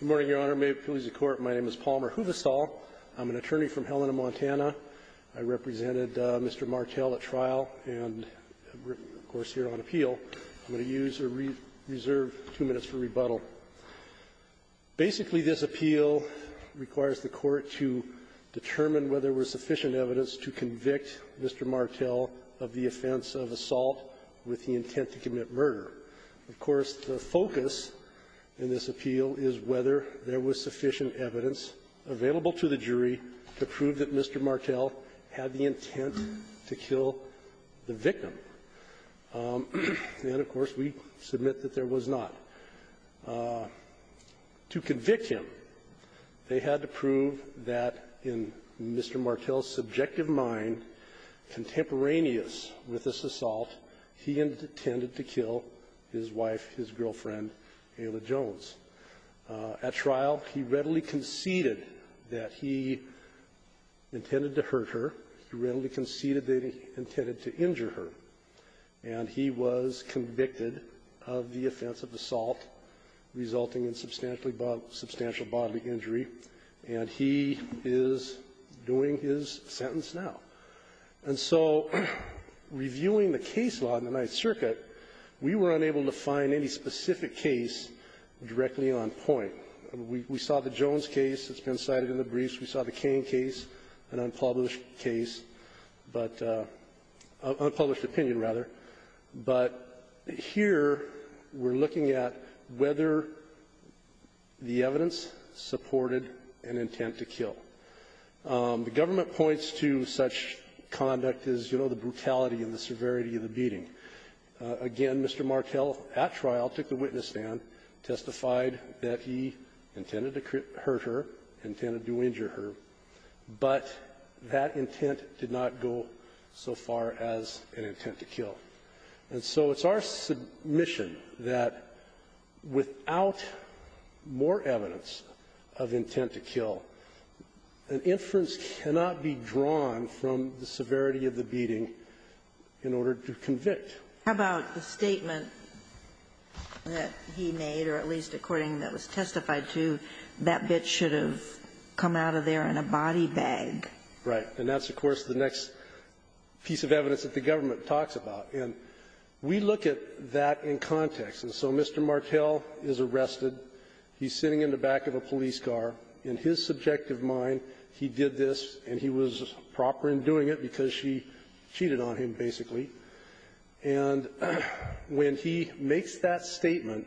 Good morning, Your Honor. May it please the Court, my name is Palmer Huvestal. I'm an attorney from Helena, Montana. I represented Mr. Martell at trial and, of course, here on appeal. I'm going to use or reserve two minutes for rebuttal. Basically, this appeal requires the Court to determine whether there was sufficient evidence to convict Mr. Martell of the offense of assault with the intent to commit murder. Of course, the focus in this appeal is whether there was sufficient evidence available to the jury to prove that Mr. Martell had the intent to kill the victim. And, of course, we submit that there was not. To convict him, they had to prove that in Mr. Martell's subjective mind, contemporaneous with this assault, he intended to kill his wife, his girlfriend, Ayla Jones. At trial, he readily conceded that he intended to hurt her. He readily conceded that he intended to injure her. And he was convicted of the offense of assault resulting in substantially bodily — substantial bodily injury, and he is doing his sentence now. And so reviewing the case law in the Ninth Circuit, we were unable to find any specific case directly on point. We saw the Jones case that's been cited in the briefs. We saw the Cain case, an unpublished case, but — unpublished opinion, rather. But here we're looking at whether the evidence supported an intent to kill. The government points to such conduct as, you know, the brutality and the severity of the beating. Again, Mr. Martell, at trial, took the witness stand, testified that he intended to hurt her, intended to injure her, but that intent did not go so far as an intent to kill. And so it's our submission that without more evidence of intent to kill, an inference cannot be drawn from the severity of the beating in order to convict. How about the statement that he made, or at least according to what was testified to, that bitch should have come out of there in a body bag? Right. And that's, of course, the next piece of evidence that the government talks about. And we look at that in context. And so Mr. Martell is arrested. He's sitting in the back of a police car. In his subjective mind, he did this, and he was proper in doing it because she cheated on him, basically. And when he makes that statement,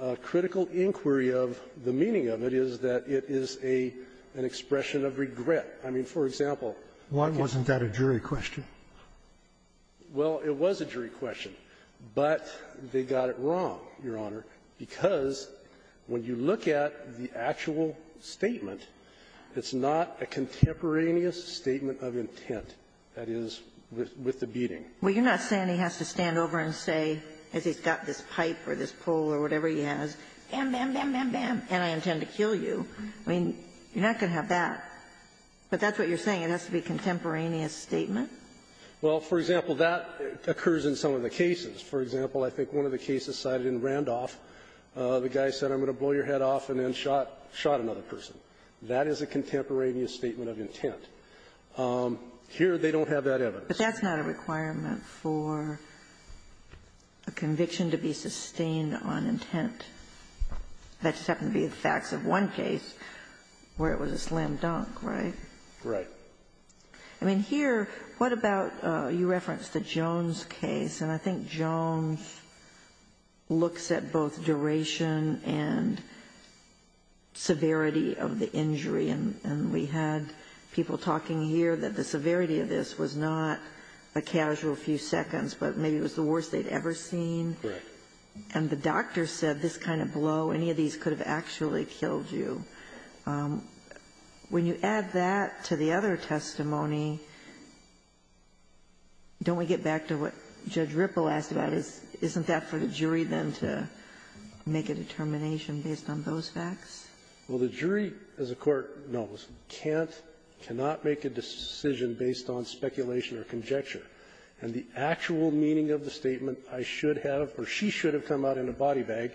a critical inquiry of the meaning of it is that it is a an expression of regret. I mean, for example, I can't say why it's not a jury question. Well, it was a jury question, but they got it wrong, Your Honor, because when you look at the actual statement, it's not a contemporaneous statement of intent, that is, with the beating. Well, you're not saying he has to stand over and say, as he's got this pipe or this pole or whatever he has, bam, bam, bam, bam, bam, and I intend to kill you. I mean, you're not going to have that. But that's what you're saying. It has to be a contemporaneous statement? Well, for example, that occurs in some of the cases. For example, I think one of the cases cited in Randolph, the guy said, I'm going to blow your head off and then shot another person. That is a contemporaneous statement of intent. Here, they don't have that evidence. But that's not a requirement for a conviction to be sustained on intent. That just happened to be the facts of one case where it was a slam dunk, right? Right. I mean, here, what about you referenced the Jones case, and I think Jones looks at both duration and severity of the injury. And we had people talking here that the severity of this was not a casual few seconds, but maybe it was the worst they'd ever seen. Correct. And the doctor said this kind of blow, any of these could have actually killed you. When you add that to the other testimony, don't we get back to what Judge Ripple asked about? Isn't that for the jury, then, to make a determination based on those facts? Well, the jury, as the Court knows, can't, cannot make a decision based on speculation or conjecture. And the actual meaning of the statement, I should have, or she should have come out in a body bag,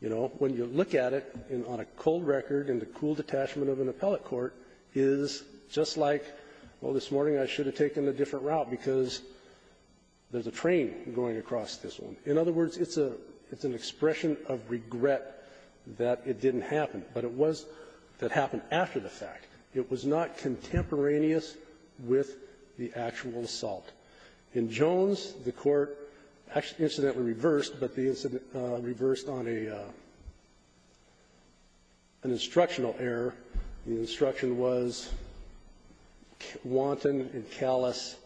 you know, when you look at it on a cold record in the cool detachment of an appellate court, is just like, well, this morning I should have taken a different route because there's a train going across this one. In other words, it's a, it's an expression of regret that it didn't happen. But it was that happened after the fact. It was not contemporaneous with the actual assault. In Jones, the Court incidentally reversed, but the incident reversed on a, an instructional error. The instruction was wanton and callous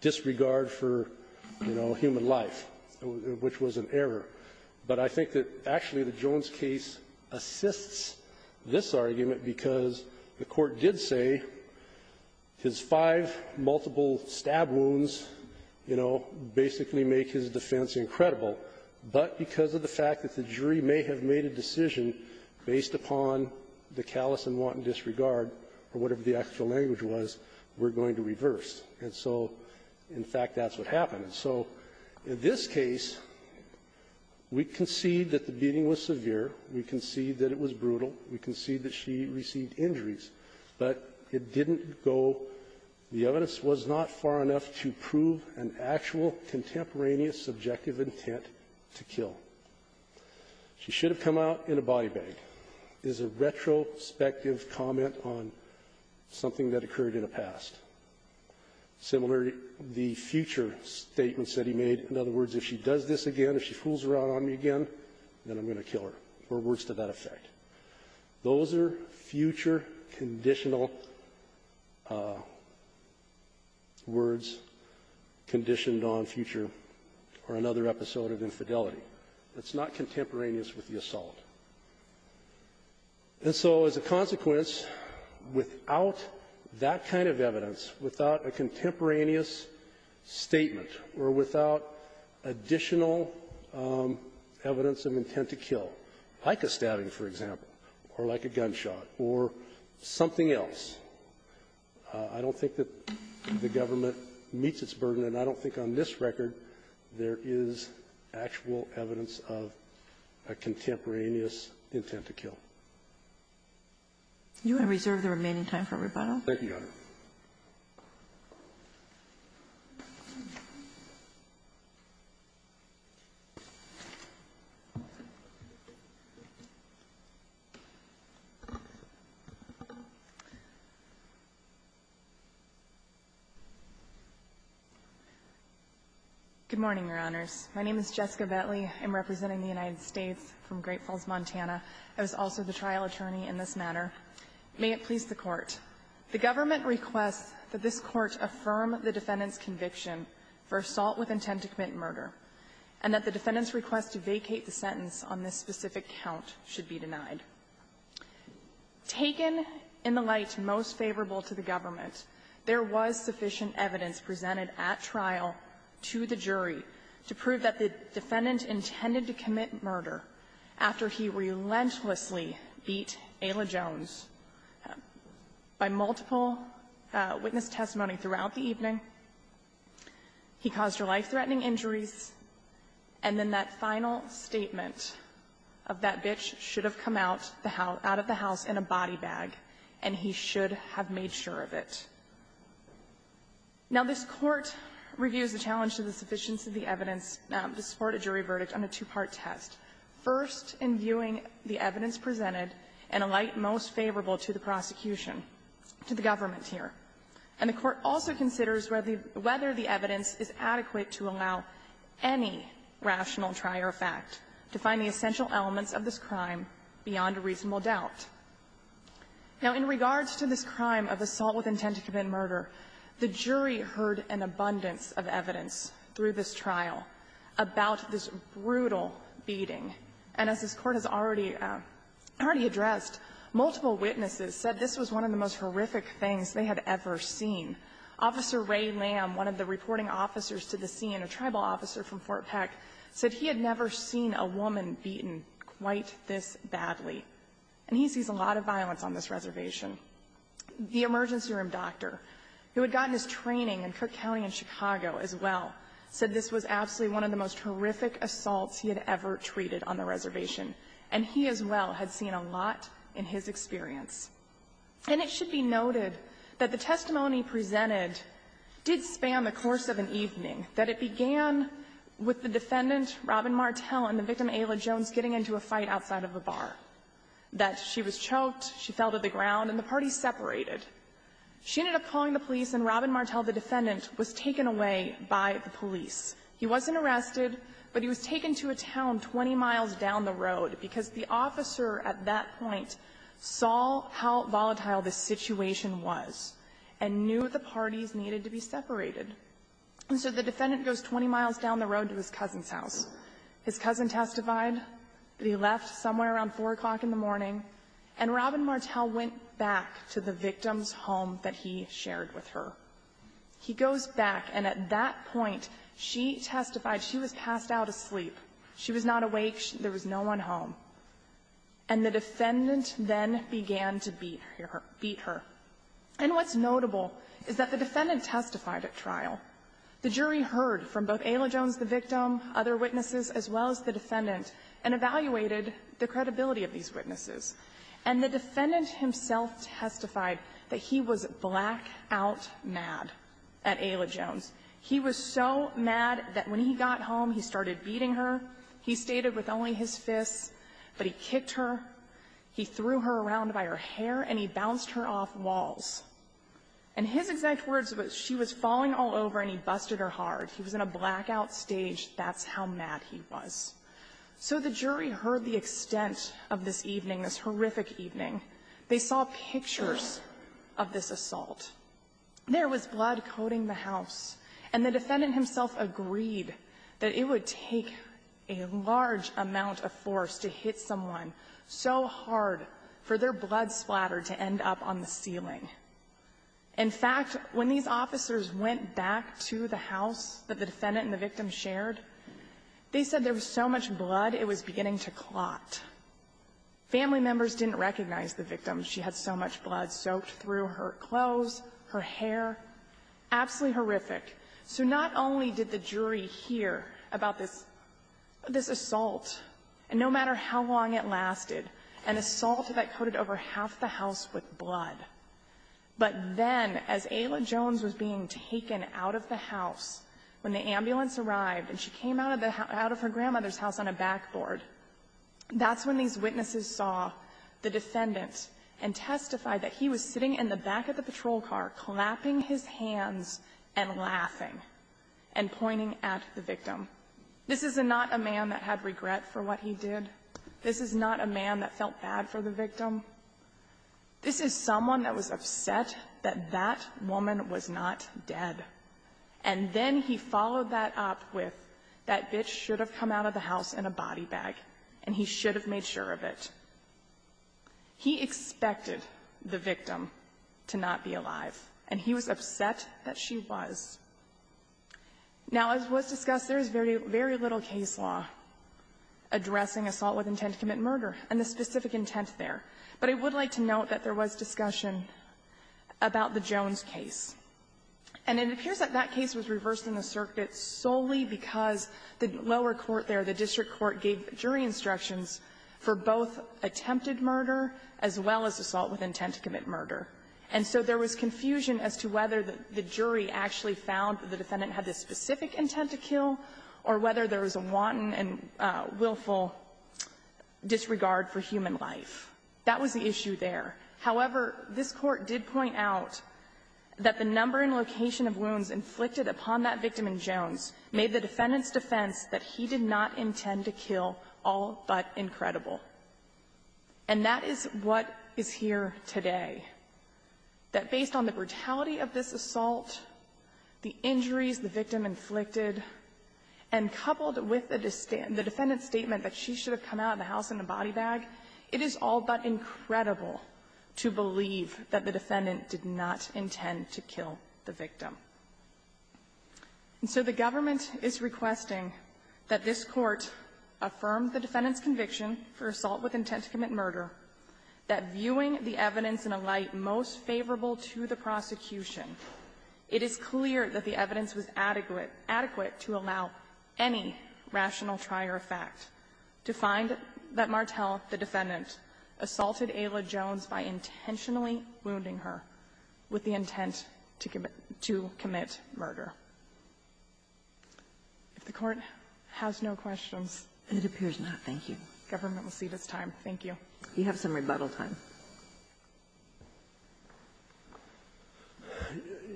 disregard for, you know, human life, which was an error. But I think that actually the Jones case assists this argument because the Court did say his five multiple stab wounds, you know, basically make his defense incredible. But because of the fact that the jury may have made a decision based upon the callous and wanton disregard, or whatever the actual language was, we're going to reverse. And so, in fact, that's what happened. And so in this case, we concede that the beating was severe. We concede that it was brutal. We concede that she received injuries. But it didn't go the evidence was not far enough to prove an actual contemporaneous subjective intent to kill. She should have come out in a body bag. This is a retrospective comment on something that occurred in the past. Similar to the future statements that he made. In other words, if she does this again, if she fools around on me again, then I'm going to kill her, or words to that effect. Or another episode of infidelity. It's not contemporaneous with the assault. And so, as a consequence, without that kind of evidence, without a contemporaneous statement, or without additional evidence of intent to kill, like a stabbing, for example, or like a gunshot, or something else, I don't think that the government meets its burden, and I don't think on this record there is actual evidence of a contemporaneous intent to kill. Good morning, Your Honors. My name is Jessica Bettley. I'm representing the United States from Great Falls, Montana. I was also the trial attorney in this matter. May it please the Court. The government requests that this Court affirm the defendant's conviction for assault with intent to commit murder, and that the defendant's request to vacate the sentence on this specific count should be denied. Taken in the light most favorable to the government, there was sufficient evidence presented at trial to the jury to prove that the defendant intended to commit murder after he relentlessly beat Ayla Jones by multiple witness testimony throughout the evening. He caused her life-threatening injuries. And then that final statement of that bitch should have come out of the house in a body Now, this Court reviews the challenge to the sufficiency of the evidence to support a jury verdict on a two-part test, first in viewing the evidence presented in a light most favorable to the prosecution, to the government here. And the Court also considers whether the evidence is adequate to allow any rational trier fact to find the essential elements of this crime beyond a reasonable doubt. Now, in regards to this crime of assault with intent to commit murder, the jury heard an abundance of evidence through this trial about this brutal beating. And as this Court has already addressed, multiple witnesses said this was one of the most horrific things they had ever seen. Officer Ray Lamb, one of the reporting officers to the scene, a tribal officer from Fort Peck, said he had never seen a woman beaten quite this badly. And he sees a lot of violence on this reservation. The emergency room doctor, who had gotten his training in Cook County and Chicago as well, said this was absolutely one of the most horrific assaults he had ever treated on the reservation. And he as well had seen a lot in his experience. And it should be noted that the testimony presented did span the course of an evening, that it began with the defendant, Robin Martel, and the victim, Ayla Jones, getting into a fight outside of a bar, that she was choked. She fell to the ground, and the parties separated. She ended up calling the police, and Robin Martel, the defendant, was taken away by the police. He wasn't arrested, but he was taken to a town 20 miles down the road, because the officer at that point saw how volatile this situation was and knew the parties needed to be separated. And so the defendant goes 20 miles down the road to his cousin's house. His cousin testified that he left somewhere around 4 o'clock in the morning, and Robin Martel went back to the victim's home that he shared with her. He goes back, and at that point, she testified she was passed out asleep. She was not awake. There was no one home. And the defendant then began to beat her. And what's notable is that the defendant testified at trial. The jury heard from both Ayla Jones, the victim, other witnesses, as well as the defendant, and evaluated the credibility of these witnesses. And the defendant himself testified that he was blackout mad at Ayla Jones. He was so mad that when he got home, he started beating her. He stated with only his fists, but he kicked her. He threw her around by her hair, and he bounced her off walls. And his exact words were, she was falling all over, and he busted her hard. He was in a blackout stage. That's how mad he was. So the jury heard the extent of this evening, this horrific evening. They saw pictures of this assault. There was blood coating the house. And the defendant himself agreed that it would take a large amount of force to hit someone so hard for their blood splatter to end up on the ceiling. In fact, when these officers went back to the house that the defendant and the family members saw, there was so much blood, it was beginning to clot. Family members didn't recognize the victim. She had so much blood soaked through her clothes, her hair, absolutely horrific. So not only did the jury hear about this assault, and no matter how long it lasted, an assault that coated over half the house with blood. But then, as Ayla Jones was being taken out of the house, when the ambulance arrived, and she came out of her grandmother's house on a backboard, that's when these witnesses saw the defendant and testified that he was sitting in the back of the patrol car, clapping his hands and laughing and pointing at the victim. This is not a man that had regret for what he did. This is not a man that felt bad for the victim. This is someone that was upset that that woman was not dead. And then he followed that up with, that bitch should have come out of the house in a body bag, and he should have made sure of it. He expected the victim to not be alive, and he was upset that she was. Now, as was discussed, there is very little case law addressing assault with intent to commit murder, and the specific intent there. But I would like to note that there was discussion about the Jones case. And it appears that that case was reversed in the circuit solely because the lower court there, the district court, gave jury instructions for both attempted murder as well as assault with intent to commit murder. And so there was confusion as to whether the jury actually found that the defendant had this specific intent to kill or whether there was a wanton and willful disregard for human life. That was the issue there. However, this Court did point out that the number and location of wounds inflicted upon that victim in Jones made the defendant's defense that he did not intend to kill all but incredible. And that is what is here today, that based on the brutality of this assault, the injuries the victim inflicted, and coupled with the defendant's statement that she should have come out of the house in a body bag, it is all but incredible to believe that the defendant did not intend to kill the victim. And so the government is requesting that this Court affirm the defendant's conviction for assault with intent to commit murder, that viewing the evidence in a light most favorable to the prosecution, it is clear that the evidence was adequate to allow any rational trier of fact to find that Martel, the defendant, assaulted Ayla Jones by intentionally wounding her with the intent to commit murder. If the Court has no questions. Ginsburg. It appears not. Thank you. Government will see this time. Thank you. You have some rebuttal time.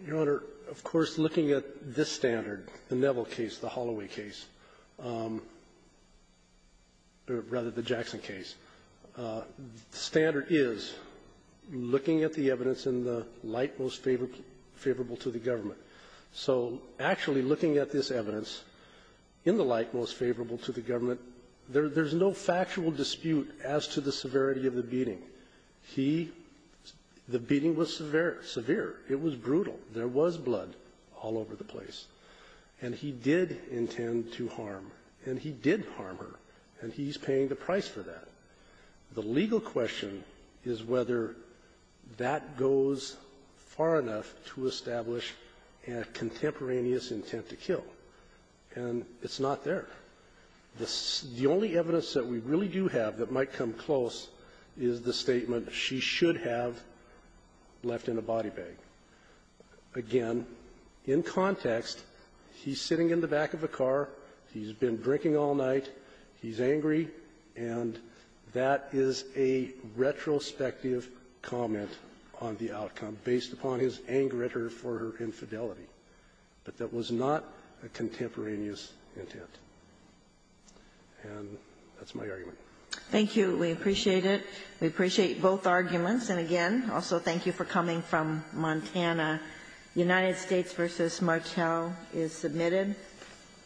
Your Honor, of course, looking at this standard, the Neville case, the Holloway case, or rather, the Jackson case, standard is looking at the evidence in the light most favorable to the government. So actually looking at this evidence in the light most favorable to the government, there's no factual dispute as to the severity of the beating. He – the beating was severe. It was brutal. There was blood all over the place. And he did intend to harm. And he did harm her. And he's paying the price for that. The legal question is whether that goes far enough to establish a contemporaneous intent to kill. And it's not there. The only evidence that we really do have that might come close is the statement she should have left in a body bag. Again, in context, he's sitting in the back of a car. He's been drinking all night. He's angry. And that is a retrospective comment on the outcome based upon his anger at her for her infidelity. But that was not a contemporaneous intent. And that's my argument. Thank you. We appreciate it. We appreciate both arguments. And again, also thank you for coming from Montana. United States v. Martel is submitted.